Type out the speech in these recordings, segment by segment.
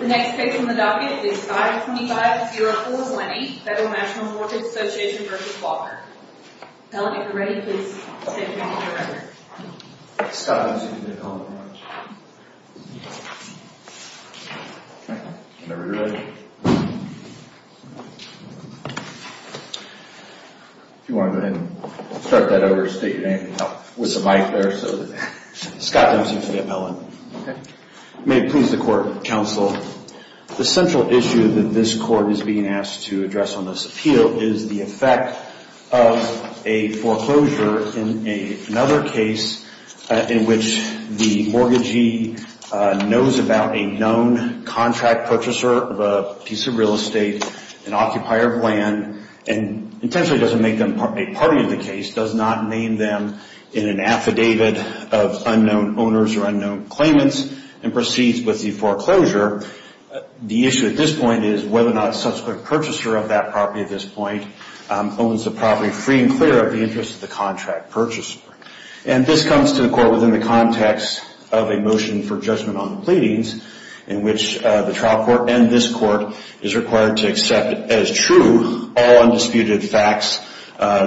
The next case on the docket is 525-0420 Federal National Mortgage Association v. Walker. Mellon, if you're ready, please step down to the record. Scott Dempsey. Whenever you're ready. If you want to go ahead and start that over and state your name with the mic there. Scott Dempsey. I'm Mellon. May it please the Court, Counsel. The central issue that this Court is being asked to address on this appeal is the effect of a foreclosure in another case in which the mortgagee knows about a known contract purchaser of a piece of real estate, an occupier of land, and intentionally doesn't make them a party in the case, does not name them in an affidavit of unknown owners or unknown claimants, and proceeds with the foreclosure. The issue at this point is whether or not a subsequent purchaser of that property at this point owns the property free and clear of the interest of the contract purchaser. And this comes to the Court within the context of a motion for judgment on the pleadings in which the trial court and this Court is required to accept as true all undisputed facts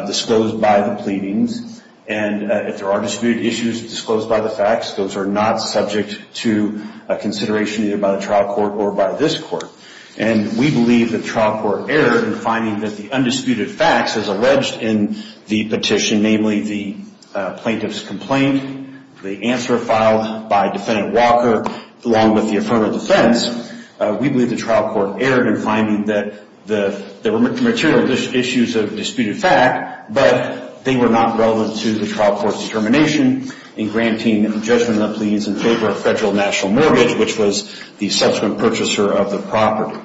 disclosed by the pleadings. And if there are disputed issues disclosed by the facts, those are not subject to a consideration either by the trial court or by this Court. And we believe that trial court error in finding that the undisputed facts as alleged in the petition, namely the plaintiff's complaint, the answer filed by Defendant Walker, along with the affirmative defense, we believe the trial court erred in finding that there were material issues of disputed fact, but they were not relevant to the trial court's determination in granting judgment on the pleadings in favor of federal national mortgage, which was the subsequent purchaser of the property.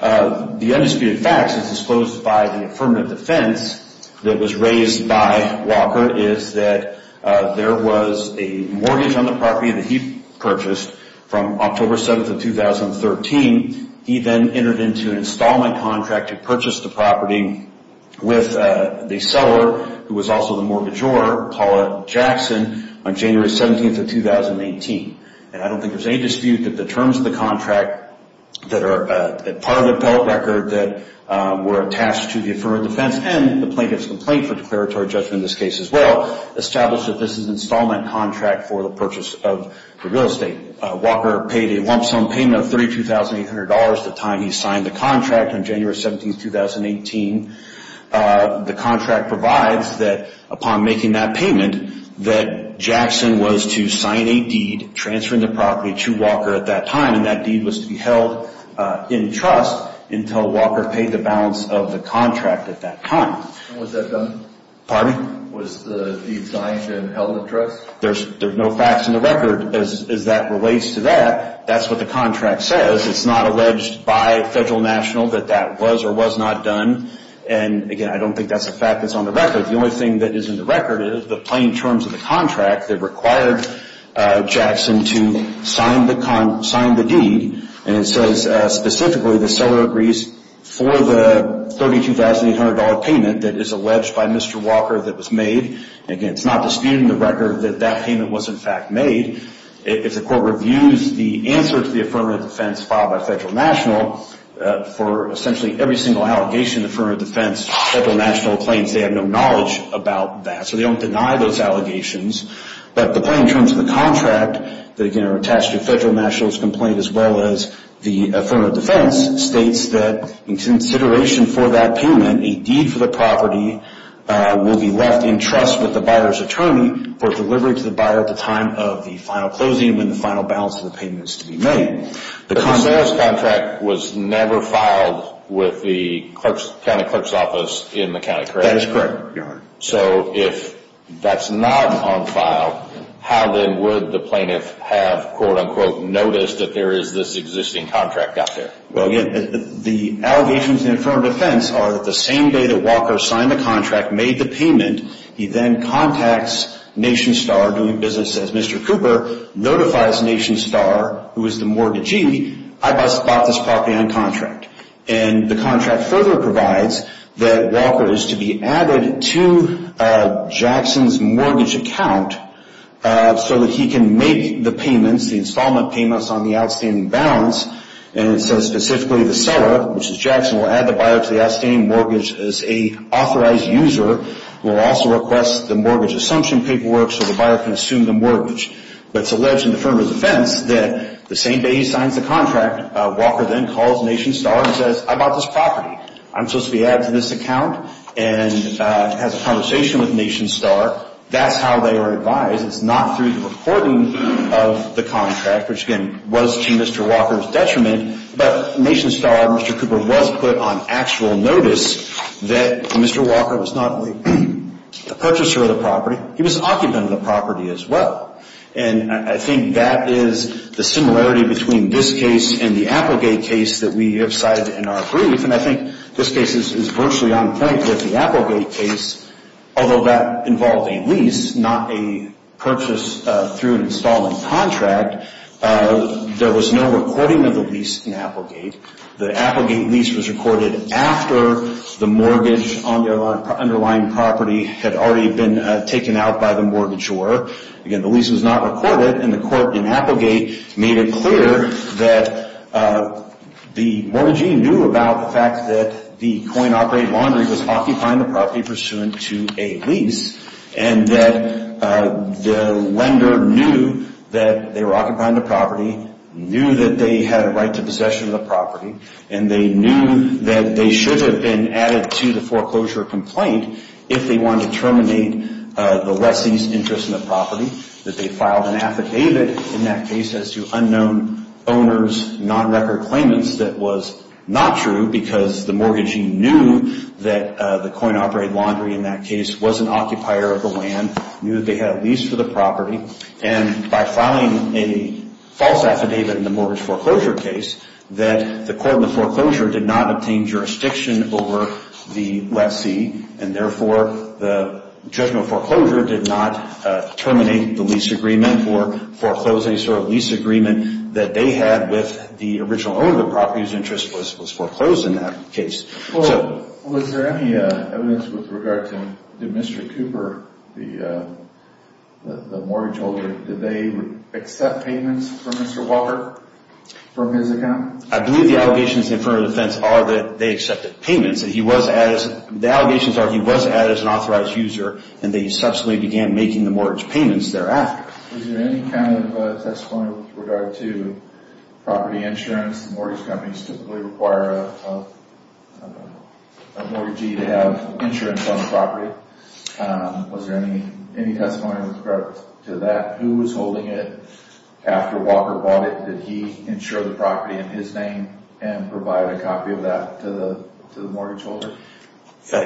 The undisputed facts as disclosed by the affirmative defense that was raised by Walker is that there was a mortgage on the property that he purchased from October 7th of 2013. He then entered into an installment contract to purchase the property with the seller, who was also the mortgagor, Paula Jackson, on January 17th of 2018. And I don't think there's any dispute that the terms of the contract that are part of the appellate record that were attached to the affirmative defense and the plaintiff's complaint for declaratory judgment in this case as well established that this is an installment contract for the purchase of the real estate. Walker paid a lump sum payment of $32,800 the time he signed the contract on January 17th, 2018. The contract provides that upon making that payment that Jackson was to sign a deed transferring the property to Walker at that time, and that deed was to be held in trust until Walker paid the balance of the contract at that time. When was that done? Pardon? Was the deed signed and held in trust? There's no facts in the record as that relates to that. That's what the contract says. It's not alleged by federal national that that was or was not done. And, again, I don't think that's a fact that's on the record. The only thing that is in the record is the plain terms of the contract that required Jackson to sign the deed. And it says specifically the seller agrees for the $32,800 payment that is alleged by Mr. Walker that was made. Again, it's not disputed in the record that that payment was in fact made. If the court reviews the answer to the affirmative defense filed by federal national for essentially every single allegation of affirmative defense, federal national claims they have no knowledge about that. So they don't deny those allegations. But the plain terms of the contract that, again, are attached to federal national's complaint as well as the affirmative defense states that in consideration for that payment, a deed for the property will be left in trust with the buyer's attorney for delivery to the buyer at the time of the final closing and when the final balance of the payment is to be made. The sales contract was never filed with the county clerk's office in the county, correct? That is correct, Your Honor. So if that's not on file, how then would the plaintiff have, quote, unquote, noticed that there is this existing contract out there? Well, again, the allegations in the affirmative defense are that the same day that Walker signed the contract, made the payment, he then contacts NationStar, doing business as Mr. Cooper, notifies NationStar, who is the mortgagee, I bought this property on contract. And the contract further provides that Walker is to be added to Jackson's mortgage account so that he can make the payments, the installment payments on the outstanding balance. And it says specifically the seller, which is Jackson, will add the buyer to the outstanding mortgage as an authorized user, will also request the mortgage assumption paperwork so the buyer can assume the mortgage. But it's alleged in the affirmative defense that the same day he signs the contract, Walker then calls NationStar and says, I bought this property. I'm supposed to be added to this account and has a conversation with NationStar. That's how they are advised. It's not through the recording of the contract, which, again, was to Mr. Walker's detriment. But NationStar, Mr. Cooper was put on actual notice that Mr. Walker was not only a purchaser of the property, he was an occupant of the property as well. And I think that is the similarity between this case and the Applegate case that we have cited in our brief. And I think this case is virtually on point with the Applegate case, although that involved a lease, not a purchase through an installment contract. There was no recording of the lease in Applegate. The Applegate lease was recorded after the mortgage on the underlying property had already been taken out by the mortgagor. Again, the lease was not recorded, and the court in Applegate made it clear that the mortgagee knew about the fact that the coin-operated laundry was occupying the property pursuant to a lease, and that the lender knew that they were occupying the property, knew that they had a right to possession of the property, and they knew that they should have been added to the foreclosure complaint if they wanted to terminate the lessee's interest in the property, that they filed an affidavit in that case as to unknown owners, non-record claimants that was not true because the mortgagee knew that the coin-operated laundry in that case was an occupier of the land, knew that they had a lease for the property, and by filing a false affidavit in the mortgage foreclosure case, that the court in the foreclosure did not obtain jurisdiction over the lessee, and therefore the judgment foreclosure did not terminate the lease agreement and therefore foreclosed any sort of lease agreement that they had with the original owner of the property whose interest was foreclosed in that case. Was there any evidence with regard to Mr. Cooper, the mortgage holder, did they accept payments from Mr. Walker from his account? I believe the allegations in front of the defense are that they accepted payments. The allegations are he was added as an authorized user and they subsequently began making the mortgage payments thereafter. Was there any kind of testimony with regard to property insurance? Mortgage companies typically require a mortgagee to have insurance on the property. Was there any testimony with regard to that? Who was holding it after Walker bought it? Did he insure the property in his name and provide a copy of that to the mortgage holder?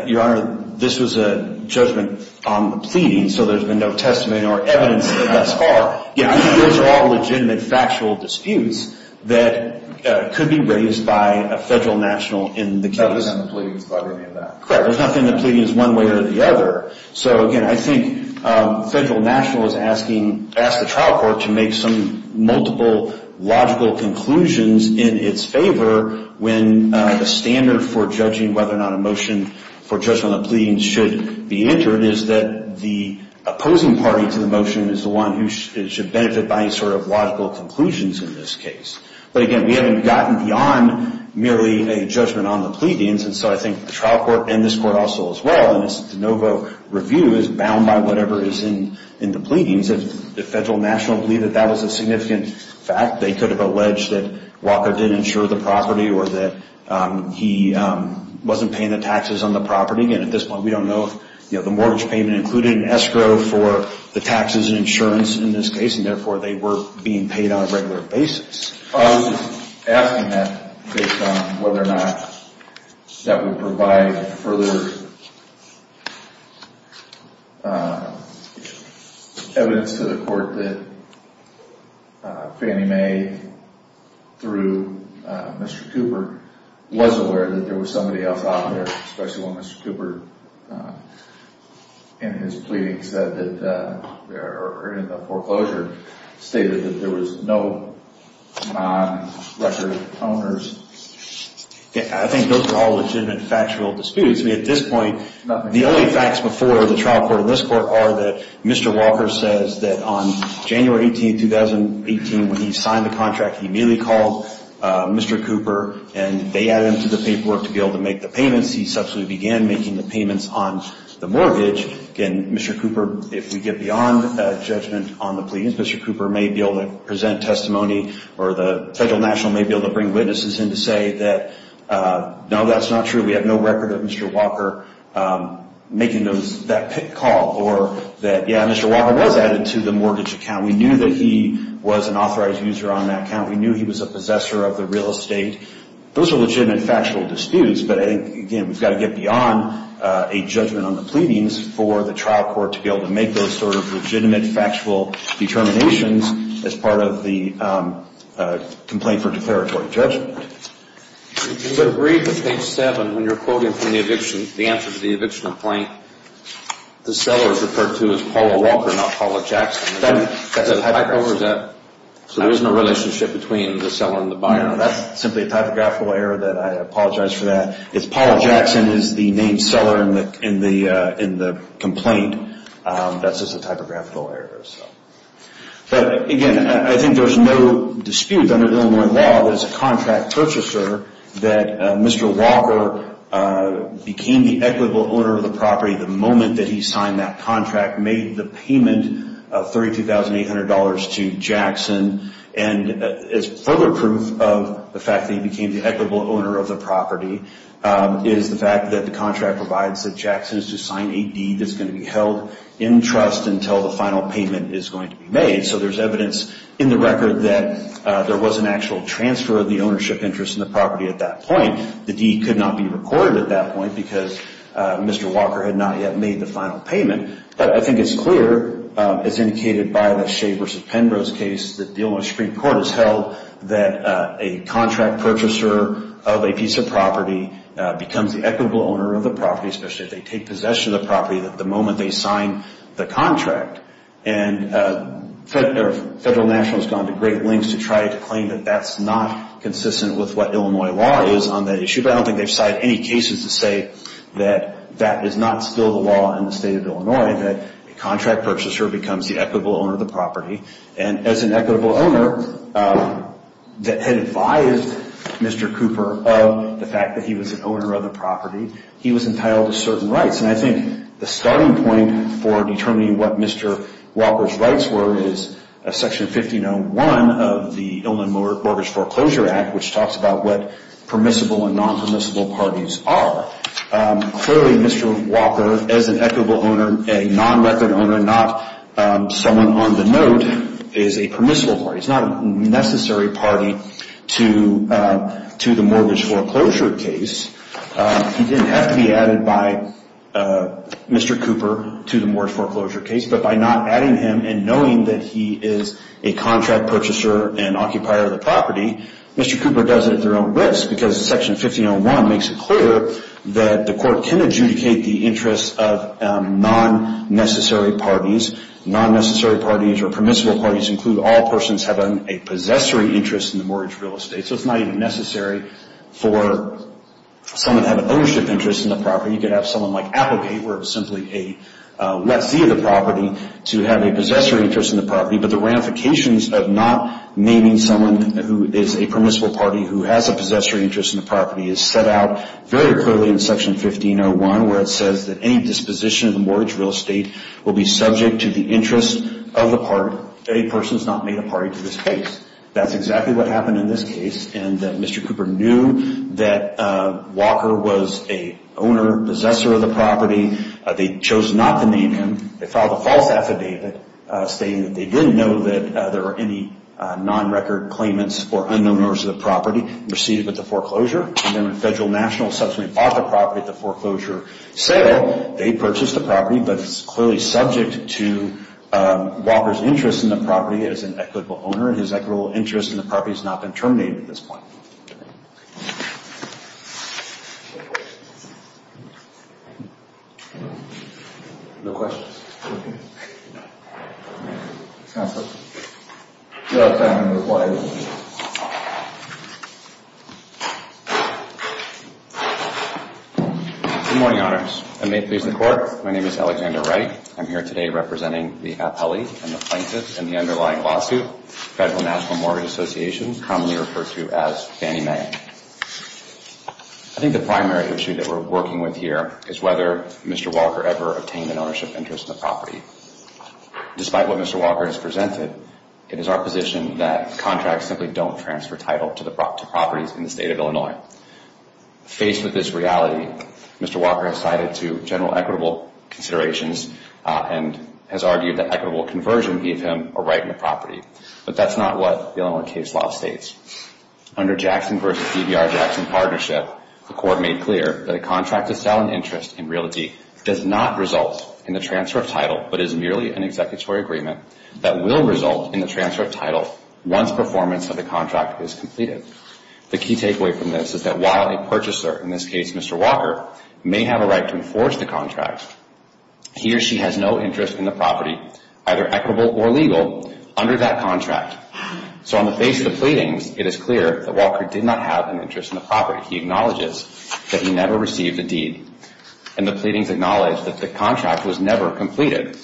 Your Honor, this was a judgment on the pleading, so there's been no testimony or evidence thus far. Again, these are all legitimate factual disputes that could be raised by a federal national in the case. There's nothing in the pleadings about any of that. Correct. There's nothing in the pleadings one way or the other. Again, I think the federal national is asking the trial court to make some multiple logical conclusions in its favor when the standard for judging whether or not a motion for judgment on the pleadings should be entered is that the opposing party to the motion is the one who should benefit by any sort of logical conclusions in this case. But again, we haven't gotten beyond merely a judgment on the pleadings, and so I think the trial court and this court also as well in this de novo review is bound by whatever is in the pleadings. If the federal national believed that that was a significant fact, they could have alleged that Walker did insure the property or that he wasn't paying the taxes on the property. Again, at this point, we don't know if the mortgage payment included an escrow for the taxes and insurance in this case, and therefore they were being paid on a regular basis. I was just asking that based on whether or not that would provide further evidence to the court that Fannie Mae through Mr. Cooper was aware that there was somebody else out there, especially when Mr. Cooper in his pleadings or in the foreclosure stated that there was no non-recorded owners. I think those are all legitimate factual disputes. I mean, at this point, the only facts before the trial court and this court are that Mr. Walker says that on January 18, 2018, when he signed the contract, he merely called Mr. Cooper and they added him to the paperwork to be able to make the payments. He subsequently began making the payments on the mortgage. Again, Mr. Cooper, if we get beyond judgment on the pleadings, Mr. Cooper may be able to present testimony or the federal national may be able to bring witnesses in to say that, no, that's not true. We have no record of Mr. Walker making that call or that, yeah, Mr. Walker was added to the mortgage account. We knew that he was an authorized user on that account. We knew he was a possessor of the real estate. Those are legitimate factual disputes, but, again, we've got to get beyond a judgment on the pleadings for the trial court to be able to make those sort of legitimate factual determinations as part of the complaint for declaratory judgment. You would agree that page 7, when you're quoting from the eviction, the answer to the eviction complaint, the seller is referred to as Paula Walker, not Paula Jackson. So there's no relationship between the seller and the buyer? No, that's simply a typographical error that I apologize for that. If Paula Jackson is the named seller in the complaint, that's just a typographical error. But, again, I think there's no dispute under the Illinois law that as a contract purchaser, that Mr. Walker became the equitable owner of the property the moment that he signed that contract, made the payment of $32,800 to Jackson. And as further proof of the fact that he became the equitable owner of the property is the fact that the contract provides that Jackson is to sign a deed that's going to be held in trust until the final payment is going to be made. So there's evidence in the record that there was an actual transfer of the ownership interest in the property at that point. The deed could not be recorded at that point because Mr. Walker had not yet made the final payment. But I think it's clear, as indicated by the Shea v. Penrose case, that the Illinois Supreme Court has held that a contract purchaser of a piece of property becomes the equitable owner of the property, especially if they take possession of the property the moment they sign the contract. And Federal National has gone to great lengths to try to claim that that's not consistent with what Illinois law is on that issue. But I don't think they've cited any cases to say that that is not still the law in the State of Illinois, that a contract purchaser becomes the equitable owner of the property. And as an equitable owner that had advised Mr. Cooper of the fact that he was an owner of the property, he was entitled to certain rights. And I think the starting point for determining what Mr. Walker's rights were is Section 1501 of the Illinois Mortgage Foreclosure Act, which talks about what permissible and non-permissible parties are. Clearly, Mr. Walker, as an equitable owner, a non-record owner, not someone on the note, is a permissible party. He's not a necessary party to the mortgage foreclosure case. He didn't have to be added by Mr. Cooper to the mortgage foreclosure case. But by not adding him and knowing that he is a contract purchaser and occupier of the property, Mr. Cooper does it at their own risk. Because Section 1501 makes it clear that the court can adjudicate the interests of non-necessary parties. Non-necessary parties or permissible parties include all persons who have a possessory interest in the mortgage real estate. So it's not even necessary for someone to have an ownership interest in the property. You could have someone like Applegate, where it's simply a let-see of the property, to have a possessory interest in the property. But the ramifications of not naming someone who is a permissible party who has a possessory interest in the property is set out very clearly in Section 1501, where it says that any disposition of the mortgage real estate will be subject to the interests of a person who has not made a party to this case. That's exactly what happened in this case. And Mr. Cooper knew that Walker was an owner, possessor of the property. They chose not to name him. They filed a false affidavit stating that they didn't know that there were any non-record claimants or unknown owners of the property received at the foreclosure. And then when Federal National subsequently bought the property at the foreclosure sale, they purchased the property. But it's clearly subject to Walker's interest in the property as an equitable owner, and his equitable interest in the property has not been terminated at this point. No questions? No questions? Okay. You're out of time. I'm going to reply. Okay. Good morning, Honors, and may it please the Court. My name is Alexander Wright. I'm here today representing the appellee and the plaintiff in the underlying lawsuit, Federal National Mortgage Association, commonly referred to as Fannie Mae. I think the primary issue that we're working with here is whether Mr. Walker ever obtained an ownership interest in the property. Despite what Mr. Walker has presented, it is our position that contracts simply don't transfer title to properties in the State of Illinois. Faced with this reality, Mr. Walker has sided to general equitable considerations and has argued that equitable conversion gave him a right in the property. But that's not what the Illinois case law states. Under Jackson v. CBR-Jackson partnership, the Court made clear that a contract to sell an interest in realty does not result in the transfer of title, but is merely an executory agreement that will result in the transfer of title once performance of the contract is completed. The key takeaway from this is that while a purchaser, in this case Mr. Walker, may have a right to enforce the contract, he or she has no interest in the property, either equitable or legal, under that contract. So on the face of the pleadings, it is clear that Walker did not have an interest in the property. He acknowledges that he never received a deed, and the pleadings acknowledge that the contract was never completed.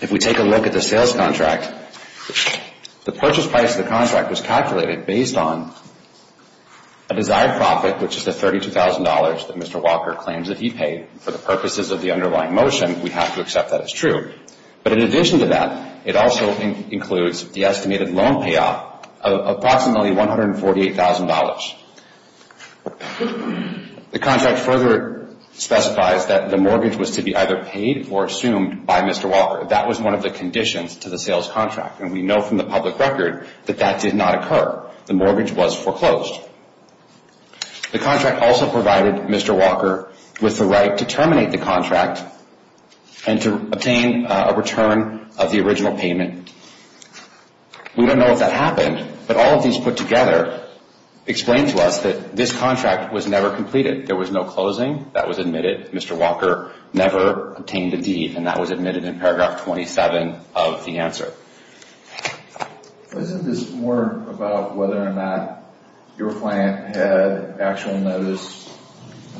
If we take a look at the sales contract, the purchase price of the contract was calculated based on a desired profit, which is the $32,000 that Mr. Walker claims that he paid. For the purposes of the underlying motion, we have to accept that as true. But in addition to that, it also includes the estimated loan payoff of approximately $148,000. The contract further specifies that the mortgage was to be either paid or assumed by Mr. Walker. That was one of the conditions to the sales contract, and we know from the public record that that did not occur. The mortgage was foreclosed. The contract also provided Mr. Walker with the right to terminate the contract and to obtain a return of the original payment. We don't know if that happened, but all of these put together explain to us that this contract was never completed. There was no closing. That was admitted. Mr. Walker never obtained a deed, and that was admitted in paragraph 27 of the answer. Isn't this more about whether or not your client had actual notice,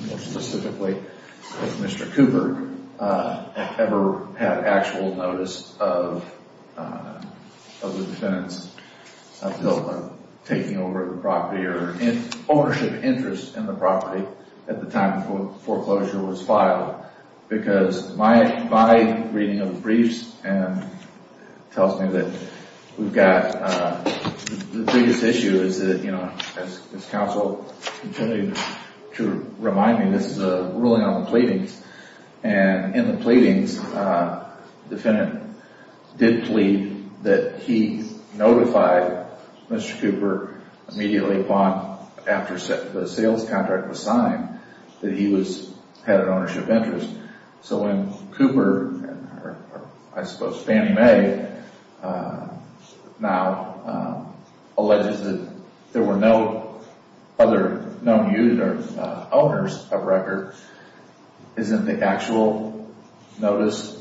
more specifically if Mr. Cooper ever had actual notice of the defendant's taking over the property or ownership interest in the property at the time the foreclosure was filed? Because my reading of the briefs tells me that we've got the biggest issue is that, you know, as counsel continued to remind me, this is a ruling on the pleadings. And in the pleadings, the defendant did plead that he notified Mr. Cooper immediately upon, after the sales contract was signed, that he had an ownership interest. So when Cooper, or I suppose Fannie Mae, now alleges that there were no other known owners of records, isn't the actual notice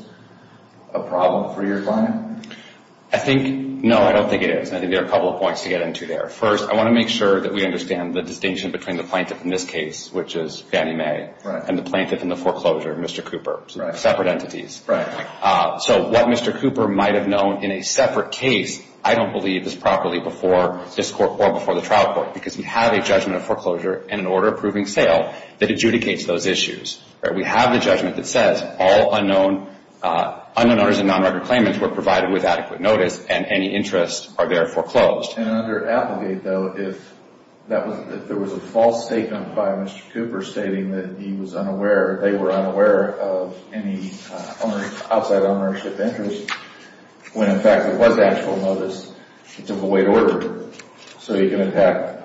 a problem for your client? I think, no, I don't think it is. And I think there are a couple of points to get into there. First, I want to make sure that we understand the distinction between the plaintiff in this case, which is Fannie Mae, and the plaintiff in the foreclosure, Mr. Cooper. Separate entities. Right. So what Mr. Cooper might have known in a separate case, I don't believe is properly before this court or before the trial court, because we have a judgment of foreclosure and an order approving sale that adjudicates those issues. We have a judgment that says all unknown owners of non-recorded claimants were provided with adequate notice and any interest are therefore closed. And under Applegate, though, if there was a false statement by Mr. Cooper stating that he was unaware, they were unaware of any outside ownership interest, when in fact it was actual notice, it's a void order. So you can attack.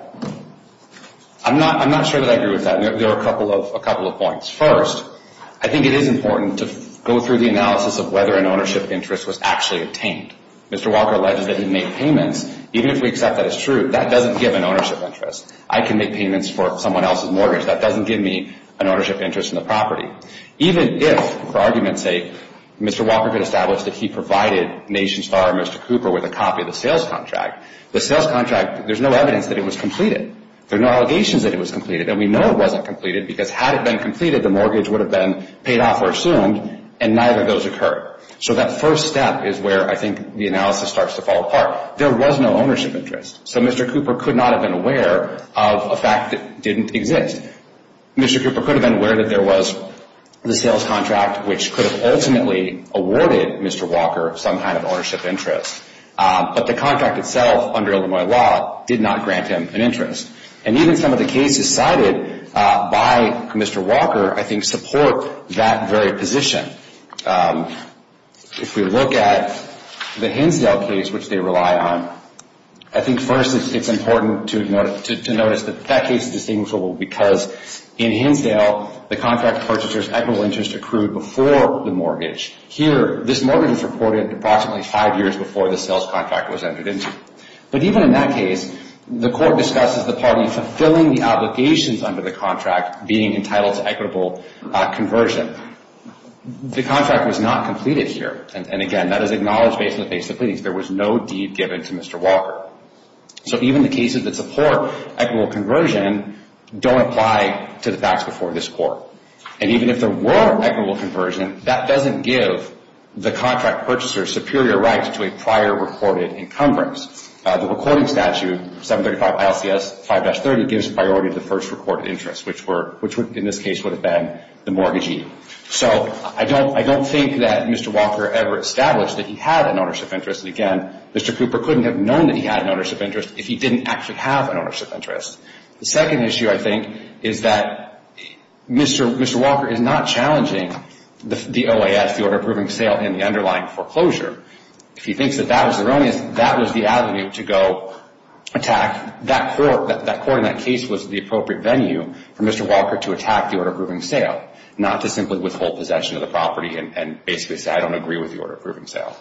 I'm not sure that I agree with that. There are a couple of points. First, I think it is important to go through the analysis of whether an ownership interest was actually obtained. Mr. Walker alleges that he made payments. Even if we accept that as true, that doesn't give an ownership interest. I can make payments for someone else's mortgage. That doesn't give me an ownership interest in the property. Even if, for argument's sake, Mr. Walker could establish that he provided NationStar or Mr. Cooper with a copy of the sales contract, the sales contract, there's no evidence that it was completed. There are no allegations that it was completed. And we know it wasn't completed because had it been completed, the mortgage would have been paid off or assumed, and neither of those occurred. So that first step is where I think the analysis starts to fall apart. There was no ownership interest. So Mr. Cooper could not have been aware of a fact that didn't exist. And Mr. Cooper could have been aware that there was the sales contract, which could have ultimately awarded Mr. Walker some kind of ownership interest. But the contract itself, under Illinois law, did not grant him an interest. And even some of the cases cited by Mr. Walker I think support that very position. If we look at the Hinsdale case, which they rely on, I think first it's important to notice that that case is distinguishable because in Hinsdale the contract purchaser's equitable interest accrued before the mortgage. Here, this mortgage is reported approximately five years before the sales contract was entered into. But even in that case, the court discusses the party fulfilling the obligations under the contract being entitled to equitable conversion. The contract was not completed here. And, again, that is acknowledged based on the face of the pleadings. There was no deed given to Mr. Walker. So even the cases that support equitable conversion don't apply to the facts before this court. And even if there were equitable conversion, that doesn't give the contract purchaser superior rights to a prior reported encumbrance. The recording statute, 735 ILCS 5-30, gives priority to the first reported interest, which in this case would have been the mortgagee. So I don't think that Mr. Walker ever established that he had an ownership interest. And, again, Mr. Cooper couldn't have known that he had an ownership interest if he didn't actually have an ownership interest. The second issue, I think, is that Mr. Walker is not challenging the OAS, the order approving sale, in the underlying foreclosure. If he thinks that that was erroneous, that was the avenue to go attack. That court in that case was the appropriate venue for Mr. Walker to attack the order approving sale, not to simply withhold possession of the property and basically say, I don't agree with the order approving sale.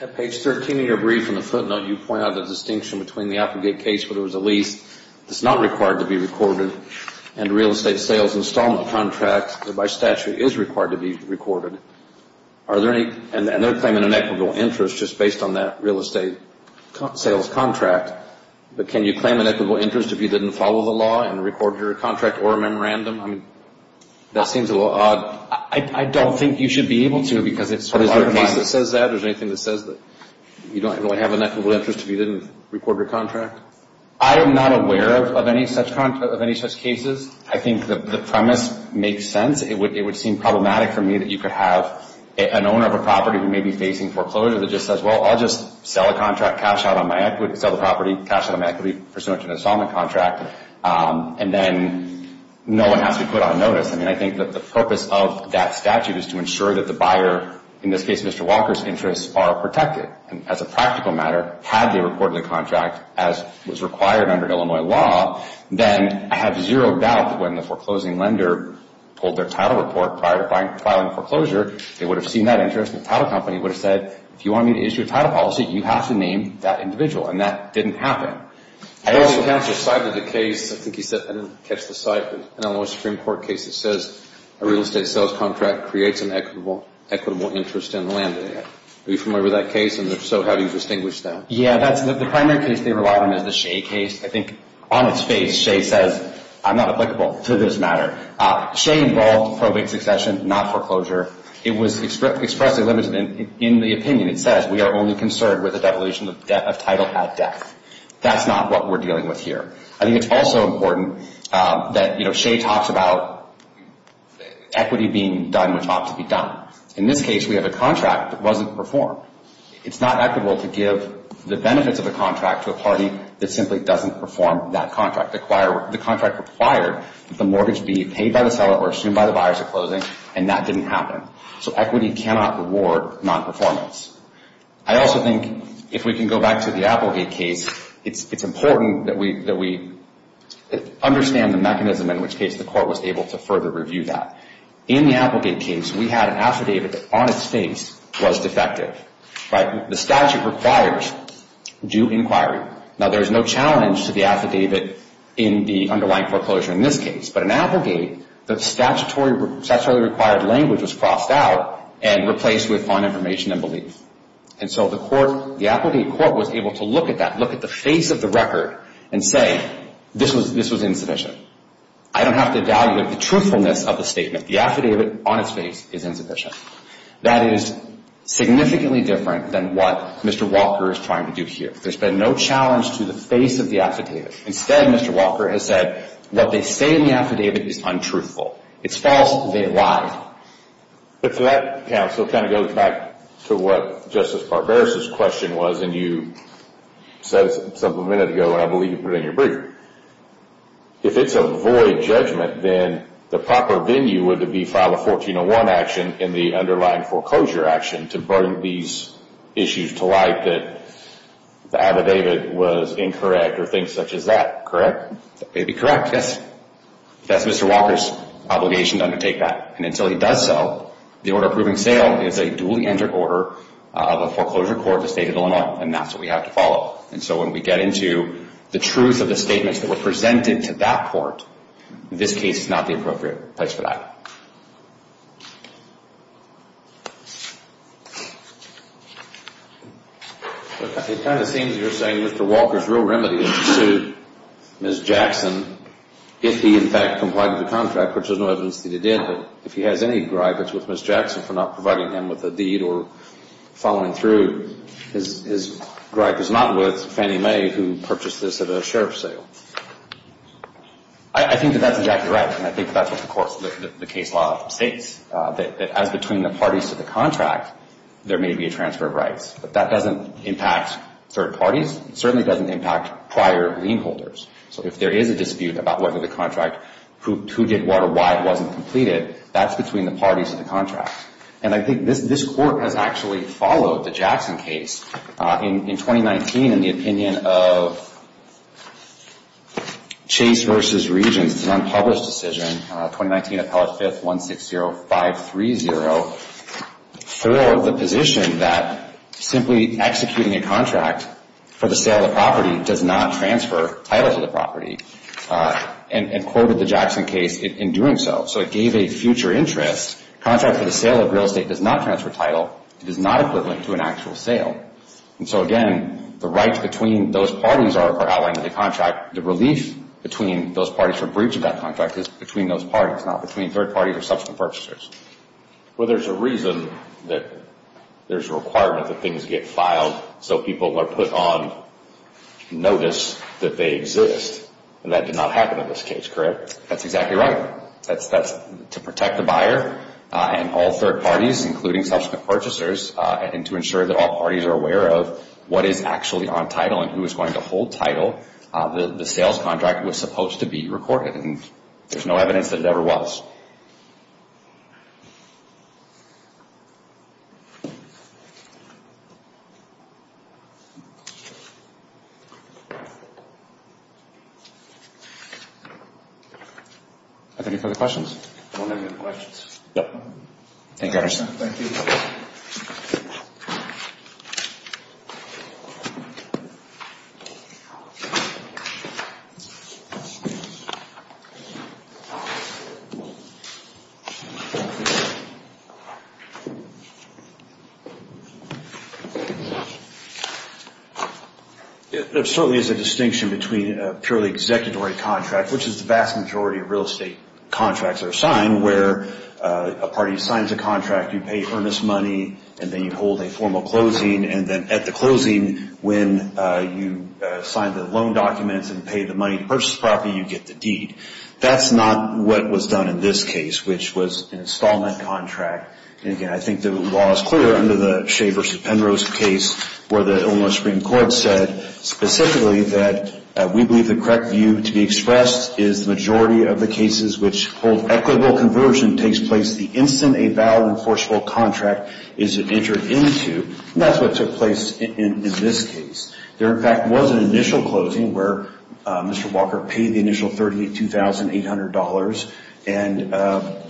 At page 13 of your brief in the footnote, you point out the distinction between the applicant case where there was a lease that's not required to be recorded and a real estate sales installment contract that by statute is required to be recorded. And they're claiming an equitable interest just based on that real estate sales contract. But can you claim an equitable interest if you didn't follow the law and record your contract or memorandum? I mean, that seems a little odd. I don't think you should be able to because it sort of undermines. Is there a case that says that? Is there anything that says that you don't have an equitable interest if you didn't record your contract? I am not aware of any such cases. I think the premise makes sense. It would seem problematic for me that you could have an owner of a property who may be facing foreclosure that just says, well, I'll just sell a contract, cash out on my equity, sell the property, cash out on my equity, pursuant to an installment contract, and then no one has to put on notice. I mean, I think that the purpose of that statute is to ensure that the buyer, in this case Mr. Walker's interests, are protected. And as a practical matter, had they recorded the contract as was required under Illinois law, then I have zero doubt that when the foreclosing lender pulled their title report prior to filing foreclosure, they would have seen that interest and the title company would have said, if you want me to issue a title policy, you have to name that individual. And that didn't happen. I also have decided the case, I think you said, I didn't catch the site, but an Illinois Supreme Court case that says a real estate sales contract creates an equitable interest in land. Are you familiar with that case? And if so, how do you distinguish that? Yeah, the primary case they relied on is the Shea case. I think on its face, Shea says, I'm not applicable to this matter. Shea involved probate succession, not foreclosure. It was expressly limited in the opinion. It says we are only concerned with the devolution of title at death. That's not what we're dealing with here. I think it's also important that, you know, Shea talks about equity being done which ought to be done. In this case, we have a contract that wasn't performed. It's not equitable to give the benefits of a contract to a party that simply doesn't perform that contract. The contract required that the mortgage be paid by the seller or assumed by the buyers at closing, and that didn't happen. So equity cannot reward nonperformance. I also think if we can go back to the Applegate case, it's important that we understand the mechanism in which case the court was able to further review that. In the Applegate case, we had an affidavit that on its face was defective. The statute requires due inquiry. Now, there's no challenge to the affidavit in the underlying foreclosure in this case. But in Applegate, the statutory required language was crossed out and replaced with on information and belief. And so the court, the Applegate court was able to look at that, look at the face of the record and say this was insufficient. I don't have to evaluate the truthfulness of the statement. The affidavit on its face is insufficient. That is significantly different than what Mr. Walker is trying to do here. There's been no challenge to the face of the affidavit. Instead, Mr. Walker has said what they say in the affidavit is untruthful. It's false. They've lied. If that, counsel, kind of goes back to what Justice Barbera's question was and you said a minute ago, and I believe you put it in your brief, if it's a void judgment, then the proper venue would be to file a 1401 action in the underlying foreclosure action to bring these issues to light that the affidavit was incorrect or things such as that, correct? That may be correct, yes. That's Mr. Walker's obligation to undertake that. And until he does so, the order approving sale is a duly entered order of a foreclosure court of the state of Illinois, and that's what we have to follow. And so when we get into the truth of the statements that were presented to that court, this case is not the appropriate place for that. It kind of seems you're saying Mr. Walker's real remedy is to sue Ms. Jackson if he, in fact, complied with the contract, which there's no evidence that he did. But if he has any gripe, it's with Ms. Jackson for not providing him with a deed or following through. His gripe is not with Fannie Mae, who purchased this at a sheriff's sale. I think that that's exactly right, and I think that's what the case law states, that as between the parties to the contract, there may be a transfer of rights. But that doesn't impact third parties. It certainly doesn't impact prior lien holders. So if there is a dispute about whether the contract, who did what or why it wasn't completed, that's between the parties to the contract. And I think this court has actually followed the Jackson case. In 2019, in the opinion of Chase v. Regents, it's an unpublished decision, 2019 Appellate 5th, 160530, throw the position that simply executing a contract for the sale of the property does not transfer title to the property, and quoted the Jackson case in doing so. So it gave a future interest. Contract for the sale of real estate does not transfer title. It is not equivalent to an actual sale. And so again, the rights between those parties are outlined in the contract. The relief between those parties for breach of that contract is between those parties, not between third parties or subsequent purchasers. Well, there's a reason that there's a requirement that things get filed so people are put on notice that they exist. And that did not happen in this case, correct? That's exactly right. To protect the buyer and all third parties, including subsequent purchasers, and to ensure that all parties are aware of what is actually on title and who is going to hold title, the sales contract was supposed to be recorded, and there's no evidence that it ever was. Any further questions? No more questions. Thank you, Anderson. Thank you. There certainly is a distinction between a purely executory contract, which is the vast majority of real estate contracts are signed, where a party signs a contract, you pay earnest money, and then you hold a formal closing, and then at the closing, when you sign the loan documents and pay the money to purchase the property, you get the deed. That's not what was done in this case, which was an installment contract. And again, I think the law is clear under the Shea v. Penrose case where the Illinois Supreme Court said specifically that we believe the correct view to be expressed is the majority of the cases which hold equitable conversion takes place the instant a valid enforceable contract is entered into, and that's what took place in this case. There, in fact, was an initial closing where Mr. Walker paid the initial $32,800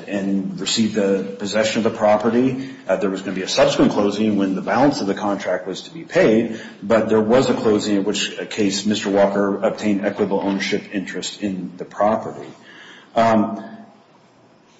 and received the possession of the property. There was going to be a subsequent closing when the balance of the contract was to be paid, but there was a closing in which a case Mr. Walker obtained equitable ownership interest in the property.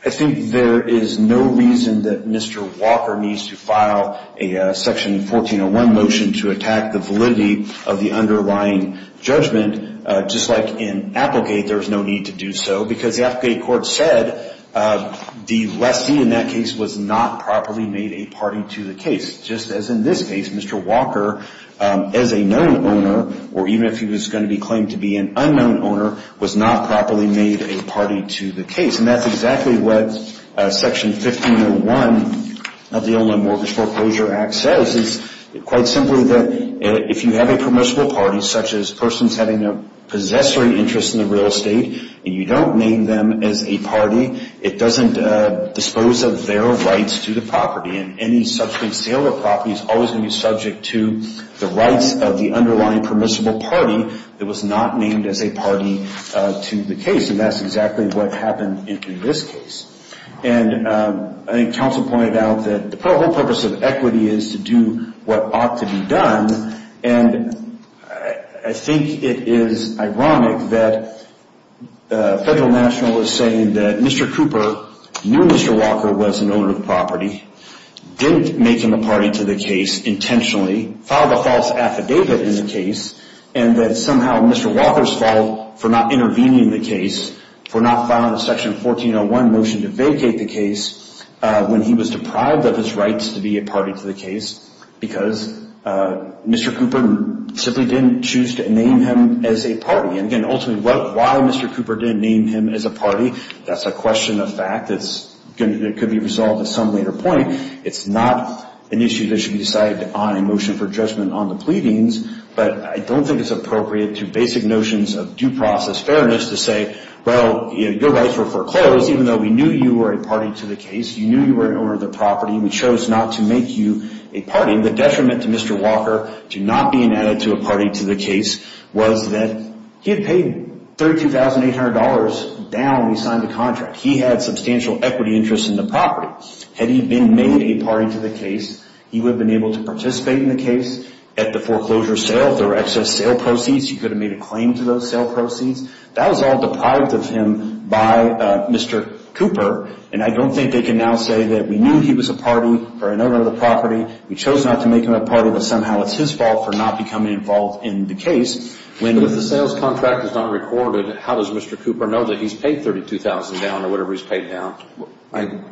I think there is no reason that Mr. Walker needs to file a Section 1401 motion to attack the validity of the underlying judgment. Just like in Applegate, there is no need to do so because the Applegate court said the lessee in that case was not properly made a party to the case, just as in this case. Mr. Walker, as a known owner, or even if he was going to be claimed to be an unknown owner, was not properly made a party to the case. And that's exactly what Section 1501 of the Illinois Mortgage Foreclosure Act says. It's quite simply that if you have a permissible party, such as persons having a possessory interest in the real estate, and you don't name them as a party, it doesn't dispose of their rights to the property. And any subsequent sale of property is always going to be subject to the rights of the underlying permissible party that was not named as a party to the case. And that's exactly what happened in this case. And I think Council pointed out that the whole purpose of equity is to do what ought to be done. And I think it is ironic that a federal national is saying that Mr. Cooper knew Mr. Walker was an owner of the property, didn't make him a party to the case intentionally, filed a false affidavit in the case, and that somehow Mr. Walker's fault for not intervening in the case, for not filing a Section 1401 motion to vacate the case when he was deprived of his rights to be a party to the case because Mr. Cooper simply didn't choose to name him as a party. And again, ultimately, why Mr. Cooper didn't name him as a party, that's a question of fact. It could be resolved at some later point. It's not an issue that should be decided on a motion for judgment on the pleadings. But I don't think it's appropriate to basic notions of due process fairness to say, well, your rights were foreclosed, even though we knew you were a party to the case, you knew you were an owner of the property, we chose not to make you a party. The detriment to Mr. Walker to not being added to a party to the case was that he had paid $32,800 down when he signed the contract. He had substantial equity interests in the property. Had he been made a party to the case, he would have been able to participate in the case. At the foreclosure sale, there were excess sale proceeds. He could have made a claim to those sale proceeds. That was all deprived of him by Mr. Cooper. And I don't think they can now say that we knew he was a party or an owner of the property, we chose not to make him a party, but somehow it's his fault for not becoming involved in the case. If the sales contract is not recorded, how does Mr. Cooper know that he's paid $32,000 down or whatever he's paid down?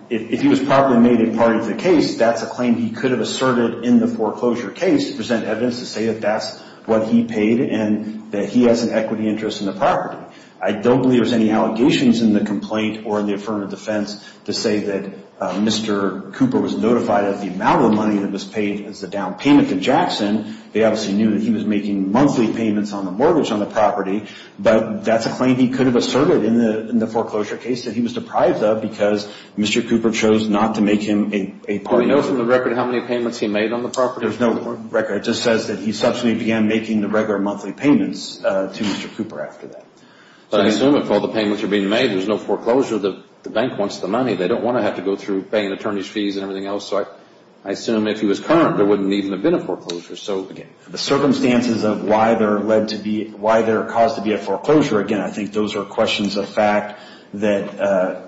If he was properly made a party to the case, that's a claim he could have asserted in the foreclosure case to present evidence to say that that's what he paid and that he has an equity interest in the property. I don't believe there's any allegations in the complaint or in the affirmative defense to say that Mr. Cooper was notified of the amount of money that was paid as a down payment to Jackson. They obviously knew that he was making monthly payments on the mortgage on the property, but that's a claim he could have asserted in the foreclosure case that he was deprived of because Mr. Cooper chose not to make him a party. Do we know from the record how many payments he made on the property? There's no record. It just says that he subsequently began making the regular monthly payments to Mr. Cooper after that. I assume if all the payments are being made, there's no foreclosure. The bank wants the money. They don't want to have to go through paying attorney's fees and everything else. I assume if he was current, there wouldn't even have been a foreclosure. The circumstances of why they're caused to be a foreclosure, again, I think those are questions of fact that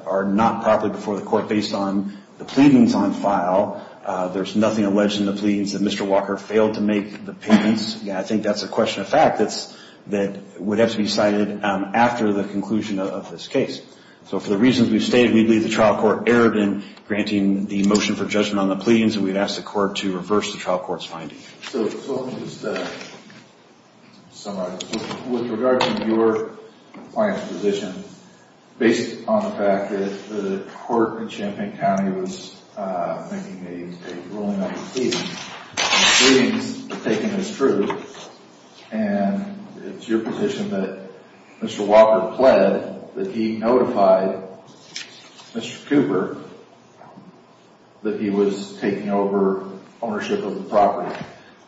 are not properly before the court based on the pleadings on file. There's nothing alleged in the pleadings that Mr. Walker failed to make the payments. I think that's a question of fact that would have to be cited after the conclusion of this case. So for the reasons we've stated, we believe the trial court erred in granting the motion for judgment on the pleadings, and we've asked the court to reverse the trial court's finding. So let me just summarize. With regard to your client's position, based on the fact that the court in Champaign County was making a ruling on the pleadings, the pleadings are taken as true, and it's your position that Mr. Walker pled that he notified Mr. Cooper that he was taking over ownership of the property.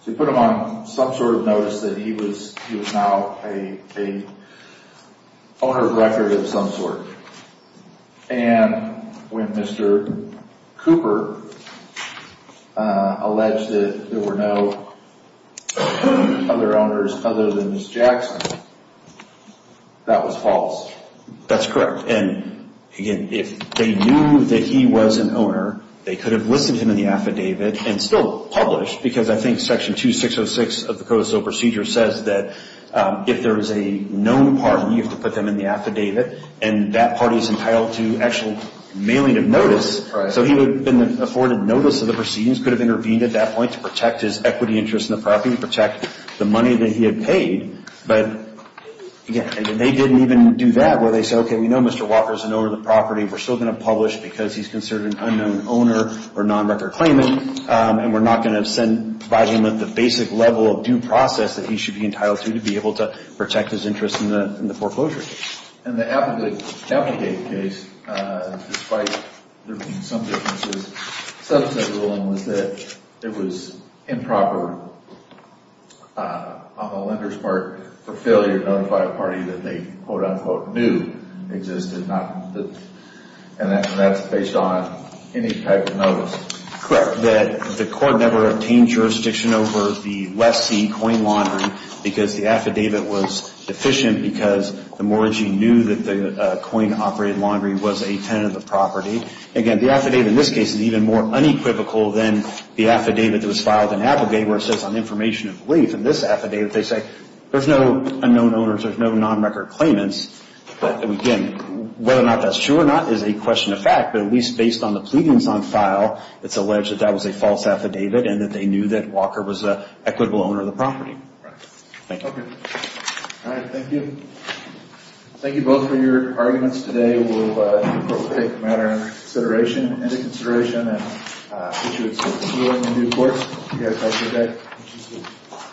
So you put him on some sort of notice that he was now an owner of record of some sort. And when Mr. Cooper alleged that there were no other owners other than Ms. Jackson, that was false. That's correct. And, again, if they knew that he was an owner, they could have listed him in the affidavit and still published, because I think Section 2606 of the Code of Civil Procedure says that if there is a known party, you have to put them in the affidavit, and that party is entitled to actual mailing of notice. So he would have been afforded notice of the proceedings, could have intervened at that point to protect his equity interest in the property, the money that he had paid, but, again, they didn't even do that where they said, okay, we know Mr. Walker is an owner of the property. We're still going to publish because he's considered an unknown owner or non-record claimant, and we're not going to provide him with the basic level of due process that he should be entitled to to be able to protect his interest in the foreclosure case. And the affidavit case, despite there being some differences, some said the ruling was that it was improper on the lender's part for failure to notify a party that they, quote, unquote, knew existed, and that's based on any type of notice. Correct. The court never obtained jurisdiction over the West Sea Coin Laundry because the affidavit was deficient because the mortgagee knew that the coin-operated laundry was a tenant of the property. Again, the affidavit in this case is even more unequivocal than the affidavit that was filed in Applegate where it says on information of leave. In this affidavit, they say there's no unknown owners, there's no non-record claimants, but, again, whether or not that's true or not is a question of fact, but at least based on the pleadings on file, it's alleged that that was a false affidavit and that they knew that Walker was an equitable owner of the property. Right. Thank you. Okay. All right. Thank you. Thank you both for your arguments today. We'll take the matter into consideration and issue its ruling in due course. You guys have a good day. Thank you. Thank you.